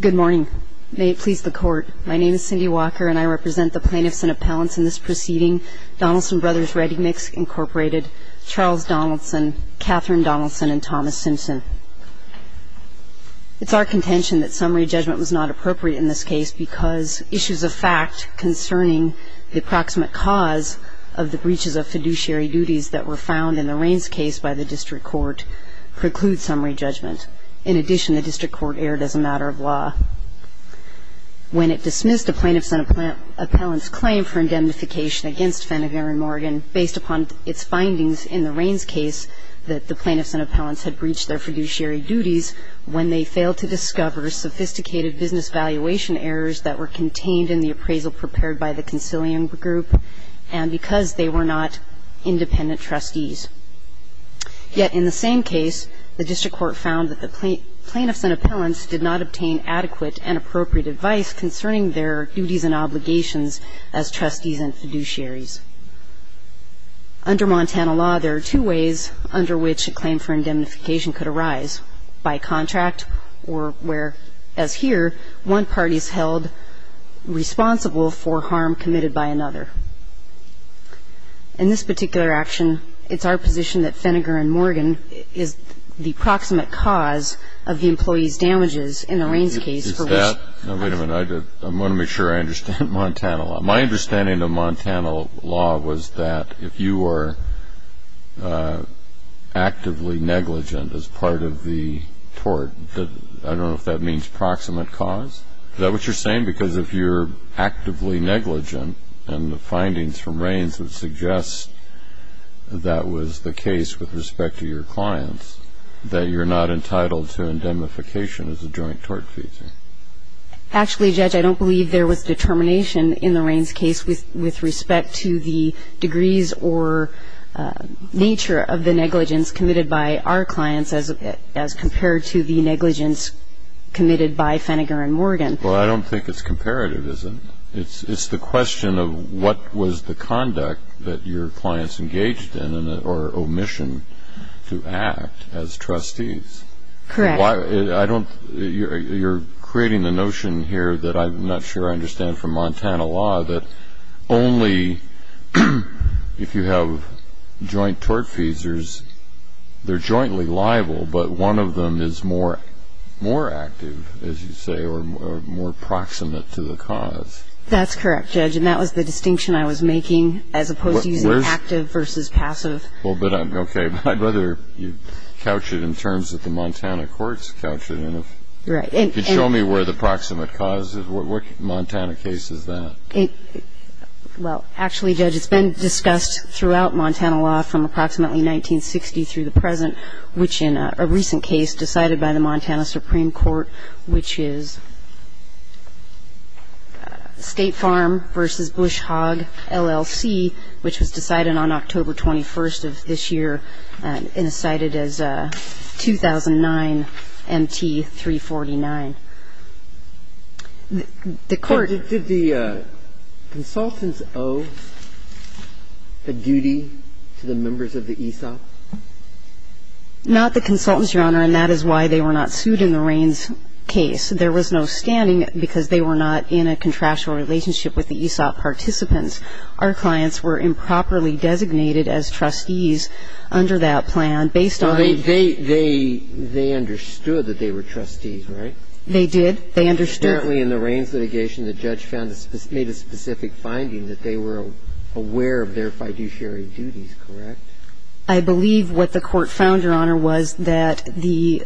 Good morning. May it please the Court, my name is Cindy Walker and I represent the plaintiffs and appellants in this proceeding, Donaldson Bros. Ready Mix, Inc., Charles Donaldson, Katherine Donaldson, and Thomas Simpson. It's our contention that summary judgment was not appropriate in this case because issues of fact concerning the approximate cause of the breaches of fiduciary duties that were found in the Raines case by the District Court preclude summary judgment. In addition, the plaintiffs and appellants claimed for indemnification against Phenneger & Morgan based upon its findings in the Raines case that the plaintiffs and appellants had breached their fiduciary duties when they failed to discover sophisticated business valuation errors that were contained in the appraisal prepared by the concilium group and because they were not independent trustees. Yet, in the same case, the District Court found that the plaintiffs and appellants did not obtain adequate and appropriate advice concerning their duties and obligations as trustees and fiduciaries. Under Montana law, there are two ways under which a claim for indemnification could arise, by contract or where, as here, one party is held responsible for harm committed by another. In this particular action, it's our position that Phenneger & Morgan is the proximate cause of the employee's damages in the Raines case for which the plaintiffs and appellants had breached their fiduciary duties. Now, wait a minute. I want to make sure I understand Montana law. My understanding of Montana law was that if you were actively negligent as part of the tort, I don't know if that means proximate cause. Is that what you're saying? Because if you're actively negligent and the findings from Raines would suggest that was the case with respect to your clients, that you're not entitled to indemnification as a joint tort feature. Actually, Judge, I don't believe there was determination in the Raines case with respect to the degrees or nature of the negligence committed by our clients as compared to the negligence committed by Phenneger & Morgan. Well, I don't think it's comparative, is it? It's the question of what was the conduct that your clients engaged in or omission to act as trustees. You're creating the notion here that I'm not sure I understand from Montana law that only if you have joint tort features, they're jointly liable, but one of them is more active, as you say, or more proximate to the cause. That's correct, Judge, and that was the distinction I was making as opposed to using active versus passive. Well, but I'm okay. I'd rather you couch it in terms that the Montana courts couch it and if you could show me where the proximate cause is. What Montana case is that? Well, actually, Judge, it's been discussed throughout Montana law from approximately 1960 through the present, which in a recent case decided by the Montana Supreme Court, which is State Farm v. Bush Hogg, LLC, which was decided on October 21st of this year and is cited as 2009 MT 349. Did the consultants owe a duty to the members of the ESOP? Not the consultants, Your Honor, and that is why they were not sued in the Rains case. There was no standing because they were not in a contractual relationship with the ESOP participants. Our clients were improperly designated as trustees under that plan based on the ______. Well, they understood that they were trustees, right? They did. They understood. Apparently in the Rains litigation, the judge made a specific finding that they were aware of their fiduciary duties, correct? I believe what the court found, Your Honor, was that the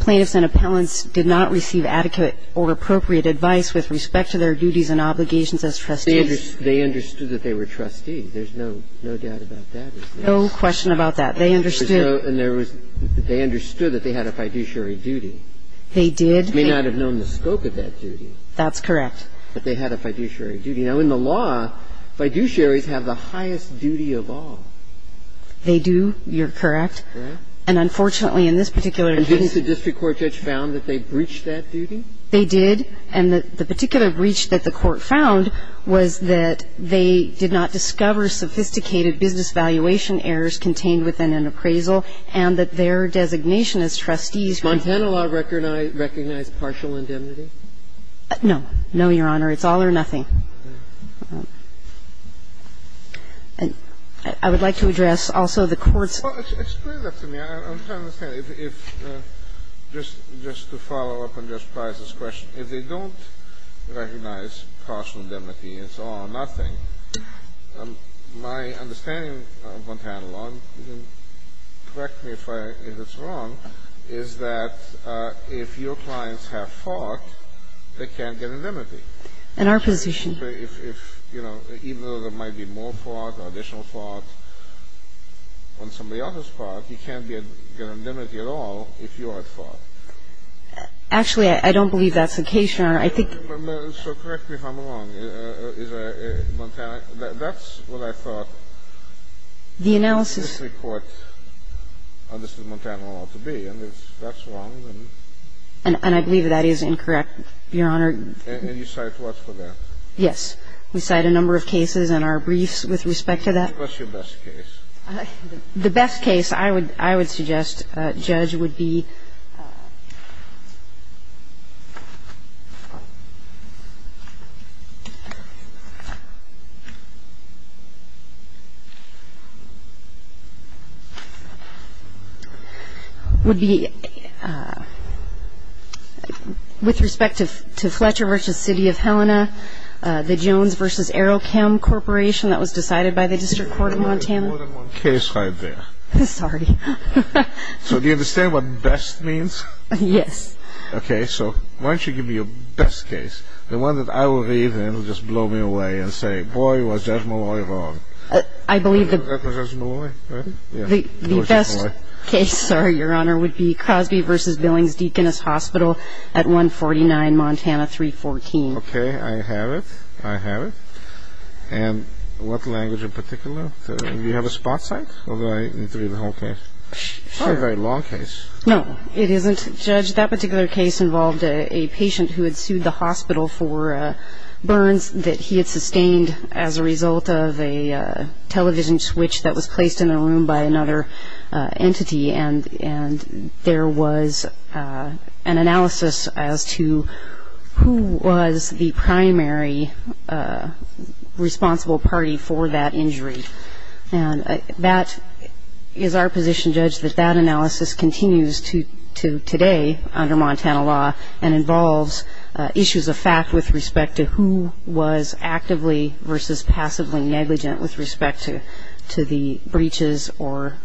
plaintiffs and appellants did not receive adequate or appropriate advice with respect to their duties and obligations as trustees. They understood that they were trustees. There's no doubt about that. No question about that. They understood. And there was ______ they understood that they had a fiduciary duty. They did. They may not have known the scope of that duty. That's correct. But they had a fiduciary duty. Now, in the law, fiduciaries have the highest duty of all. They do. You're correct. And unfortunately in this particular case ______ Did the district court judge found that they breached that duty? They did, and the particular breach that the court found was that they did not discover sophisticated business valuation errors contained within an appraisal and that their designation as trustees ______. Now, in this particular case, the district court found that they did not discover designation as trustees ______. Does Montana law recognize partial indemnity? No. No, Your Honor. It's all or nothing. I would like to address also the court's ______ Explain that to me. I'm trying to understand. Just to follow up on Justice Breyer's question, if they don't recognize partial indemnity and it's all or nothing, my understanding of Montana law, and you can correct me if it's wrong, is that if your clients have fought, they can't get indemnity. In our position. Even though there might be more fought or additional fought on somebody else's part, you can't get indemnity at all if you are at fault. Actually, I don't believe that's the case, Your Honor. I think ______ So correct me if I'm wrong. Is Montana ______? That's what I thought the district court understood Montana law to be. And if that's wrong, then ______ And I believe that is incorrect, Your Honor. And you cite what for that? Yes. We cite a number of cases in our briefs with respect to that. What's your best case? The best case I would suggest, Judge, would be ______ The Jones v. Arrow Chem Corporation that was decided by the district court of Montana. Case right there. Sorry. So do you understand what best means? Yes. Okay, so why don't you give me your best case? The one that I will read and it will just blow me away and say, boy, was Judge Malloy wrong. I believe that ______ The best case, sorry, Your Honor, would be Crosby v. Billings Deaconess Hospital at 149 Montana 314. Okay, I have it. I have it. And what language in particular? Do you have a spot site or do I need to read the whole case? It's not a very long case. No, it isn't, Judge. That particular case involved a patient who had sued the hospital for burns that he had sustained as a result of a television switch that was placed in a room by another entity. And there was an analysis as to who was the primary responsible party for that injury. And that is our position, Judge, that that analysis continues to today under Montana law and involves issues of fact with respect to who was actively versus passively negligent with respect to the breaches or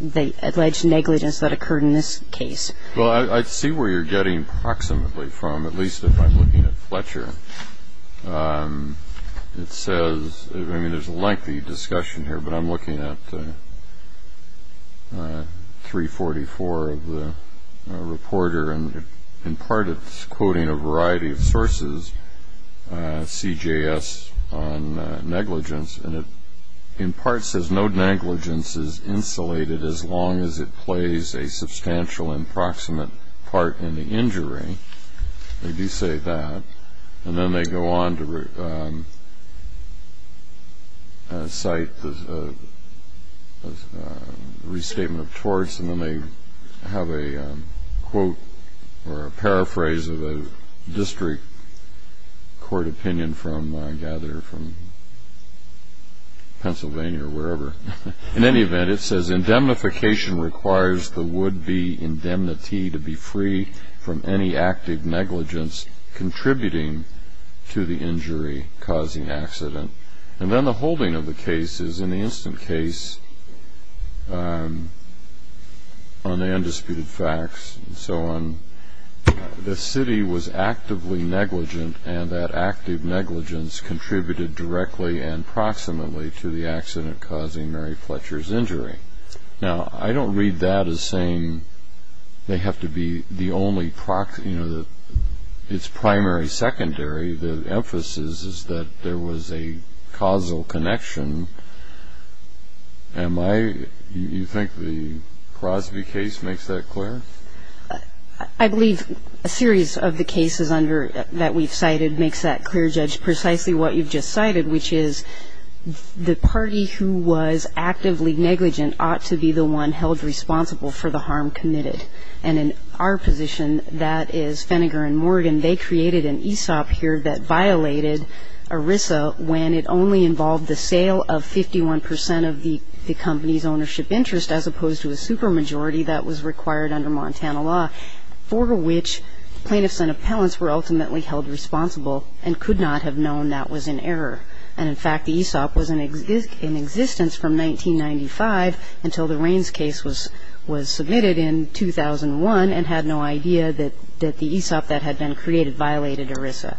the alleged negligence that occurred in this case. Well, I see where you're getting approximately from, at least if I'm looking at Fletcher. It says, I mean, there's a lengthy discussion here, but I'm looking at 344 of the reporter and in part it's quoting a variety of sources, CJS on negligence, and it in part says no negligence is insulated as long as it plays a substantial and proximate part in the injury. They do say that. And then they go on to cite the restatement of torts, and then they have a quote or a paraphrase of a district court opinion from Pennsylvania or wherever. In any event, it says, indemnification requires the would-be indemnity to be free from any active negligence contributing to the injury causing accident. And then the holding of the case is in the instant case on the undisputed facts and so on, the city was actively negligent and that active negligence contributed directly and proximately to the accident causing Mary Fletcher's injury. Now, I don't read that as saying they have to be the only, you know, it's primary, secondary. The emphasis is that there was a causal connection. You think the Crosby case makes that clear? I believe a series of the cases that we've cited makes that clear, Judge, precisely what you've just cited, which is the party who was actively negligent ought to be the one held responsible for the harm committed. And in our position, that is Feniger and Morgan, they created an ESOP here that violated ERISA when it only involved the sale of 51 percent of the company's ownership interest as opposed to a supermajority that was required under Montana law, for which plaintiffs and appellants were ultimately held responsible and could not have known that was in error. And, in fact, the ESOP was in existence from 1995 until the Raines case was submitted in 2001 and had no idea that the ESOP that had been created violated ERISA.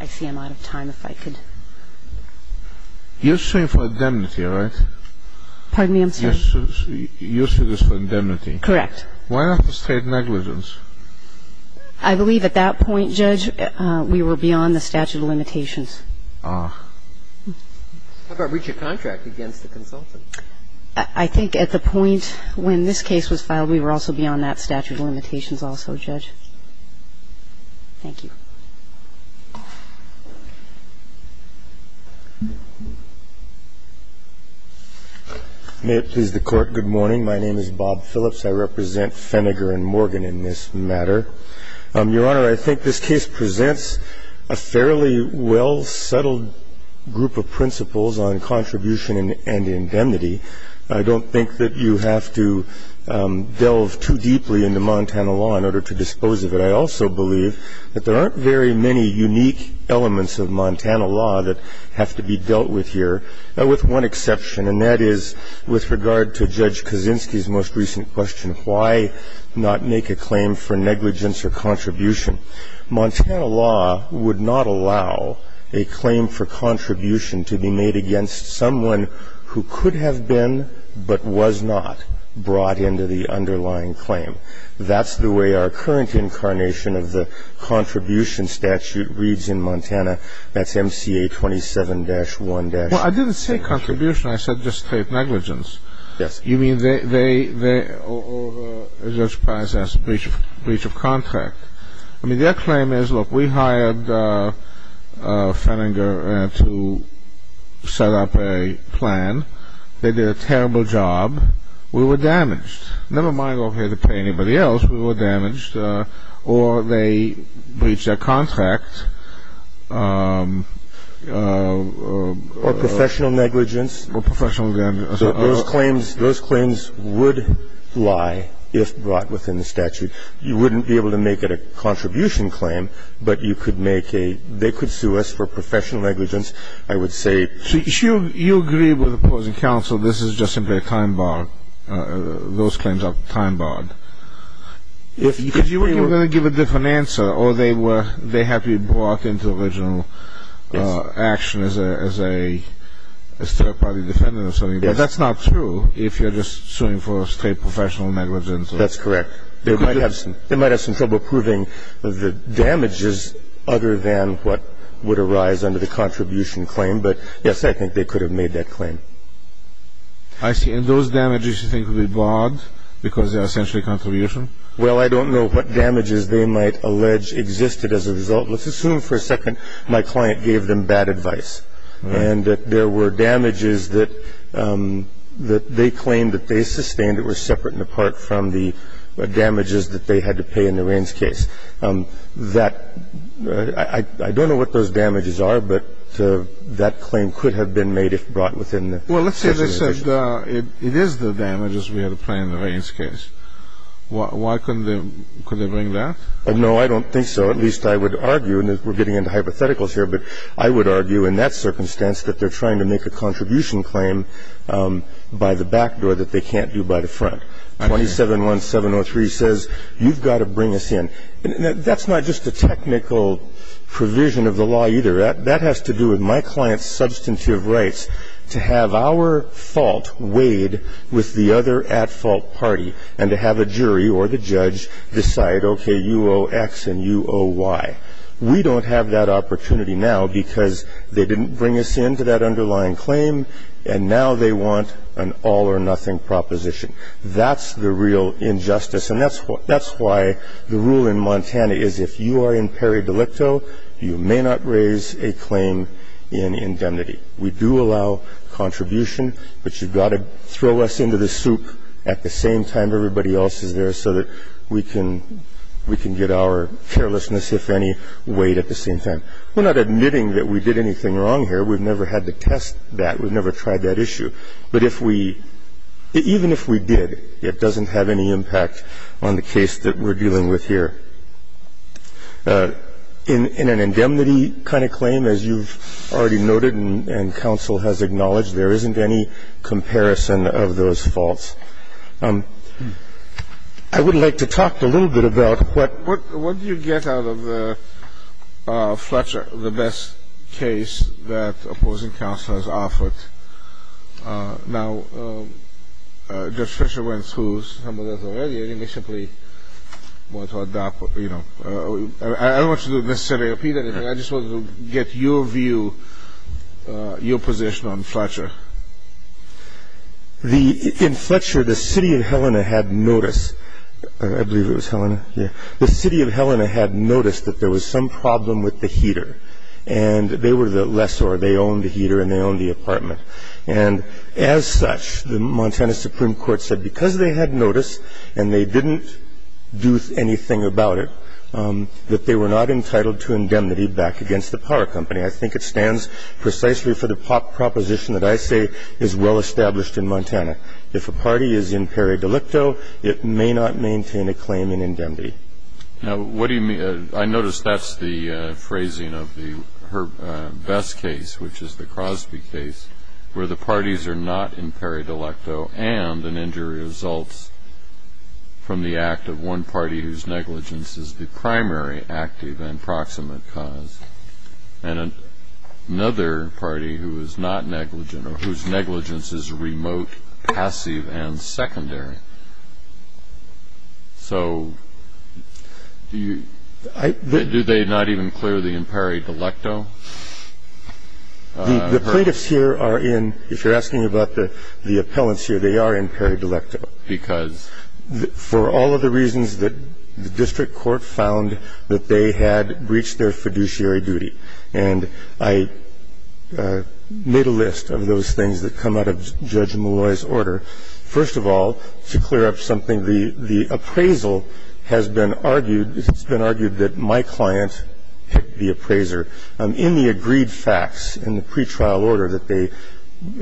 I see I'm out of time, if I could. You're suing for indemnity, right? Pardon me? I'm sorry. You're suing this for indemnity? I have no comment on that. Why not for state negligence? I believe at that point, Judge, we were beyond the statute of limitations. Ah. How about breach of contract against the consultant? I think at the point when this case was filed, we were also beyond that statute of limitations also, Judge. Thank you. May it please the Court. Good morning. My name is Bob Phillips. I represent Fennegar and Morgan in this matter. Your Honor, I think this case presents a fairly well-settled group of principles on contribution and indemnity. I don't think that you have to delve too deeply into Montana law in order to dispose of it. I also believe that there aren't very many unique elements of Montana law that have to be dealt with here, with one exception, and that is with regard to Judge Kaczynski's most recent question, why not make a claim for negligence or contribution? Montana law would not allow a claim for contribution to be made against someone who could have been but was not brought into the underlying claim. That's the way our current incarnation of the contribution statute reads in Montana. That's MCA 27-1- Well, I didn't say contribution. I said just state negligence. Yes. You mean they or the judge process breach of contract. I mean, their claim is, look, we hired Fennegar to set up a plan. They did a terrible job. We were damaged. Never mind over here to pay anybody else. We were damaged. Or they breach their contract. Or professional negligence. Or professional negligence. Those claims would lie if brought within the statute. You wouldn't be able to make it a contribution claim, but you could make a they could sue us for professional negligence, I would say. So you agree with opposing counsel this is just simply a time bar, those claims are time barred? Because you were going to give a different answer. Or they have you brought into original action as a third-party defendant or something. But that's not true if you're just suing for straight professional negligence. That's correct. They might have some trouble proving the damages other than what would arise under the contribution claim. But, yes, I think they could have made that claim. I see. And those damages you think would be barred because they're essentially a contribution? Well, I don't know what damages they might allege existed as a result. Let's assume for a second my client gave them bad advice. And that there were damages that they claimed that they sustained that were separate and apart from the damages that they had to pay in Lorraine's case. I don't know what those damages are, but that claim could have been made if brought within the case. Well, let's say they said it is the damages we had to pay in Lorraine's case. Why couldn't they bring that? No, I don't think so. At least I would argue, and we're getting into hypotheticals here, but I would argue in that circumstance that they're trying to make a contribution claim by the back door that they can't do by the front. 27-1703 says you've got to bring us in. That's not just a technical provision of the law either. That has to do with my client's substantive rights to have our fault weighed with the other at-fault party and to have a jury or the judge decide, okay, you owe X and you owe Y. We don't have that opportunity now because they didn't bring us in to that underlying claim, and now they want an all-or-nothing proposition. That's the real injustice. And that's why the rule in Montana is if you are in peri delicto, you may not raise a claim in indemnity. We do allow contribution, but you've got to throw us into the soup at the same time everybody else is there so that we can get our carelessness, if any, weighed at the same time. We're not admitting that we did anything wrong here. We've never had to test that. We've never tried that issue. But if we – even if we did, it doesn't have any impact on the case that we're dealing with here. In an indemnity kind of claim, as you've already noted and counsel has acknowledged, there isn't any comparison of those faults. I would like to talk a little bit about what you get out of the Fletcher, the best case that opposing counsel has offered. Now, Judge Fletcher went through some of those already. I think we simply want to adopt – I don't want to necessarily repeat anything. I just wanted to get your view, your position on Fletcher. In Fletcher, the city of Helena had noticed – I believe it was Helena, yeah – the city of Helena had noticed that there was some problem with the heater. And they were the lessor. They owned the heater and they owned the apartment. And as such, the Montana Supreme Court said because they had noticed and they didn't do anything about it, that they were not entitled to indemnity back against the power company. I think it stands precisely for the proposition that I say is well established in Montana. If a party is in peri-delecto, it may not maintain a claim in indemnity. Now, what do you mean – I notice that's the phrasing of the best case, which is the Crosby case, where the parties are not in peri-delecto and an injury results from the act of one party whose negligence is the primary active and proximate cause and another party who is not negligent or whose negligence is remote, passive, and secondary. So do they not even clear the peri-delecto? The plaintiffs here are in – if you're asking about the appellants here, they are in peri-delecto. Because? For all of the reasons that the district court found that they had breached their fiduciary duty. And I made a list of those things that come out of Judge Malloy's order. First of all, to clear up something, the appraisal has been argued – it's been argued that my client hit the appraiser. In the agreed facts in the pretrial order that they –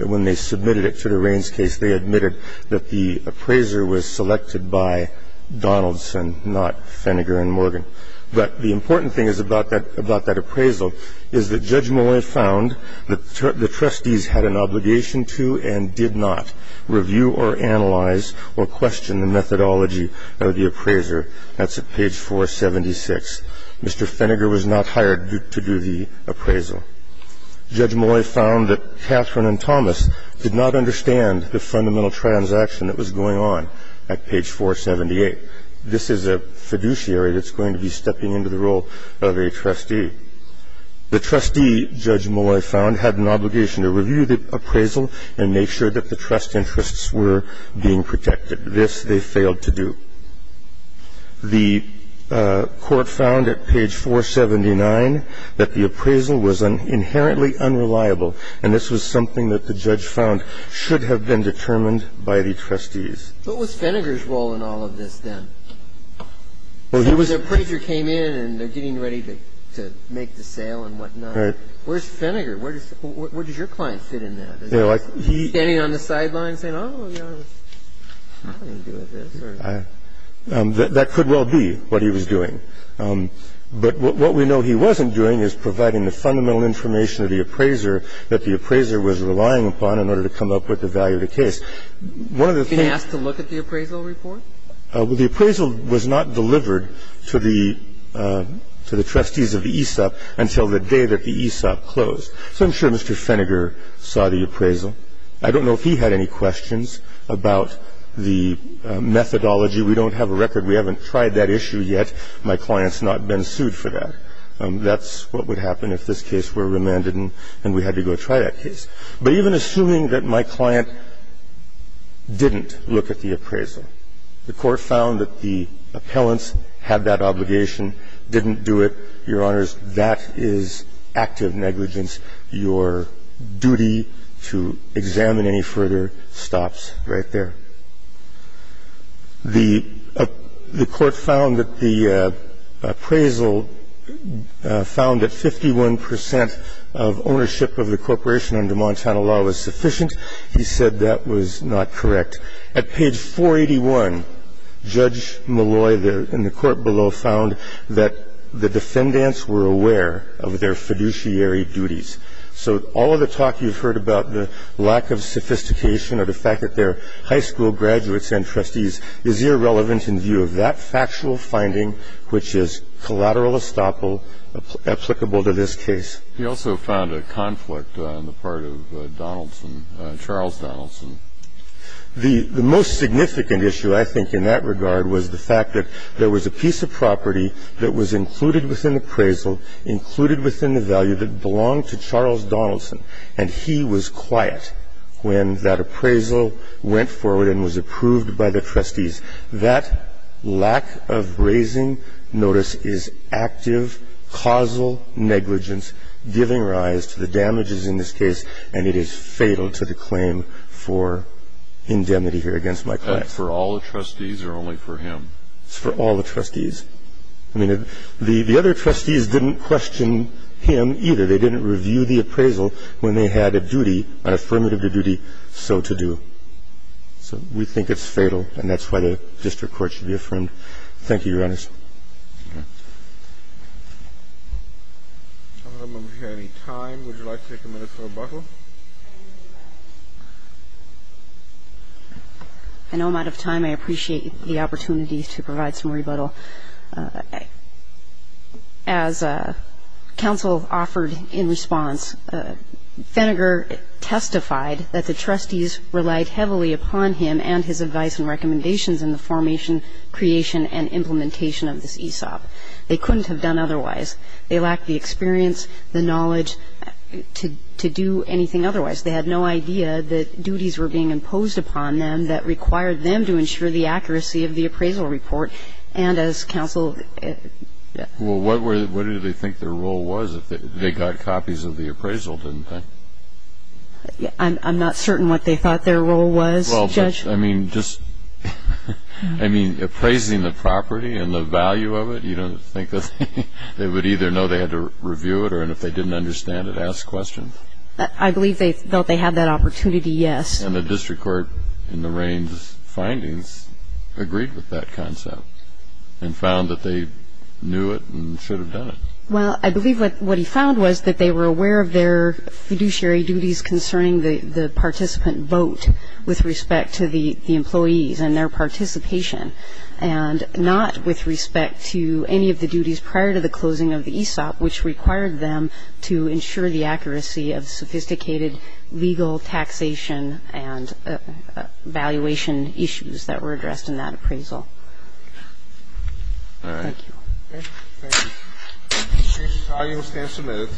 when they submitted it to the Raines case, they admitted that the appraiser was selected by Donaldson, not Feniger and Morgan. But the important thing is about that – about that appraisal is that Judge Malloy found that the trustees had an obligation to and did not review or analyze or question the methodology of the appraiser. That's at page 476. Mr. Feniger was not hired to do the appraisal. Judge Malloy found that Catherine and Thomas did not understand the fundamental transaction that was going on at page 478. This is a fiduciary that's going to be stepping into the role of a trustee. The trustee, Judge Malloy found, had an obligation to review the appraisal and make sure that the trust interests were being protected. This they failed to do. The court found at page 479 that the appraisal was inherently unreliable, and this was something that the judge found should have been determined by the trustees. What was Feniger's role in all of this then? The appraiser came in and they're getting ready to make the sale and whatnot. Right. Where's Feniger? Where does your client fit in that? Is he standing on the sidelines saying, oh, I don't want to do this? That could well be what he was doing. But what we know he wasn't doing is providing the fundamental information to the appraiser that the appraiser was relying upon in order to come up with the value of the case. One of the things he asked to look at the appraisal report? The appraisal was not delivered to the trustees of the AESOP until the day that the AESOP closed. So I'm sure Mr. Feniger saw the appraisal. I don't know if he had any questions about the methodology. We don't have a record. We haven't tried that issue yet. My client's not been sued for that. That's what would happen if this case were remanded and we had to go try that case. But even assuming that my client didn't look at the appraisal, the Court found that the appellants had that obligation, didn't do it, Your Honors, that is active negligence. Your duty to examine any further stops right there. The Court found that the appraisal found that 51 percent of ownership of the corporation under Montana law was sufficient. He said that was not correct. At page 481, Judge Malloy in the court below found that the defendants were aware of their fiduciary duties. So all of the talk you've heard about the lack of sophistication or the fact that they're high school graduates and trustees is irrelevant in view of that factual finding, which is collateral estoppel applicable to this case. He also found a conflict on the part of Donaldson, Charles Donaldson. The most significant issue, I think, in that regard was the fact that there was a piece of property that was included within the appraisal, included within the value that belonged to Charles Donaldson, and he was quiet when that appraisal went forward and was approved by the trustees. That lack of raising notice is active causal negligence giving rise to the damages in this case, and it is fatal to the claim for indemnity here against my client. For all the trustees or only for him? It's for all the trustees. I mean, the other trustees didn't question him either. They didn't review the appraisal when they had a duty, an affirmative duty, so to do. So we think it's fatal, and that's why the district court should be affirmed. Thank you, Your Honors. Roberts. I don't know if we have any time. Would you like to take a minute for rebuttal? I know I'm out of time. I appreciate the opportunity to provide some rebuttal. As counsel offered in response, Feniger testified that the trustees relied heavily upon him and his advice and recommendations in the formation, creation, and implementation of this ESOP. They couldn't have done otherwise. They lacked the experience, the knowledge to do anything otherwise. They had no idea that duties were being imposed upon them that required them to ensure the accuracy of the appraisal report. And as counsel ---- Well, what did they think their role was if they got copies of the appraisal, didn't they? I'm not certain what they thought their role was, Judge. Well, I mean, just ---- I mean, appraising the property and the value of it, you don't think that they would either know they had to review it or if they didn't understand it, ask questions. I believe they felt they had that opportunity, yes. And the district court, in Lorraine's findings, agreed with that concept and found that they knew it and should have done it. Well, I believe what he found was that they were aware of their fiduciary duties concerning the participant vote with respect to the employees and their participation and not with respect to any of the duties prior to the closing of the ESOP, which required them to ensure the accuracy of sophisticated legal taxation and valuation issues that were addressed in that appraisal. All right. Thank you. Okay. Thank you. The case is highly substantive.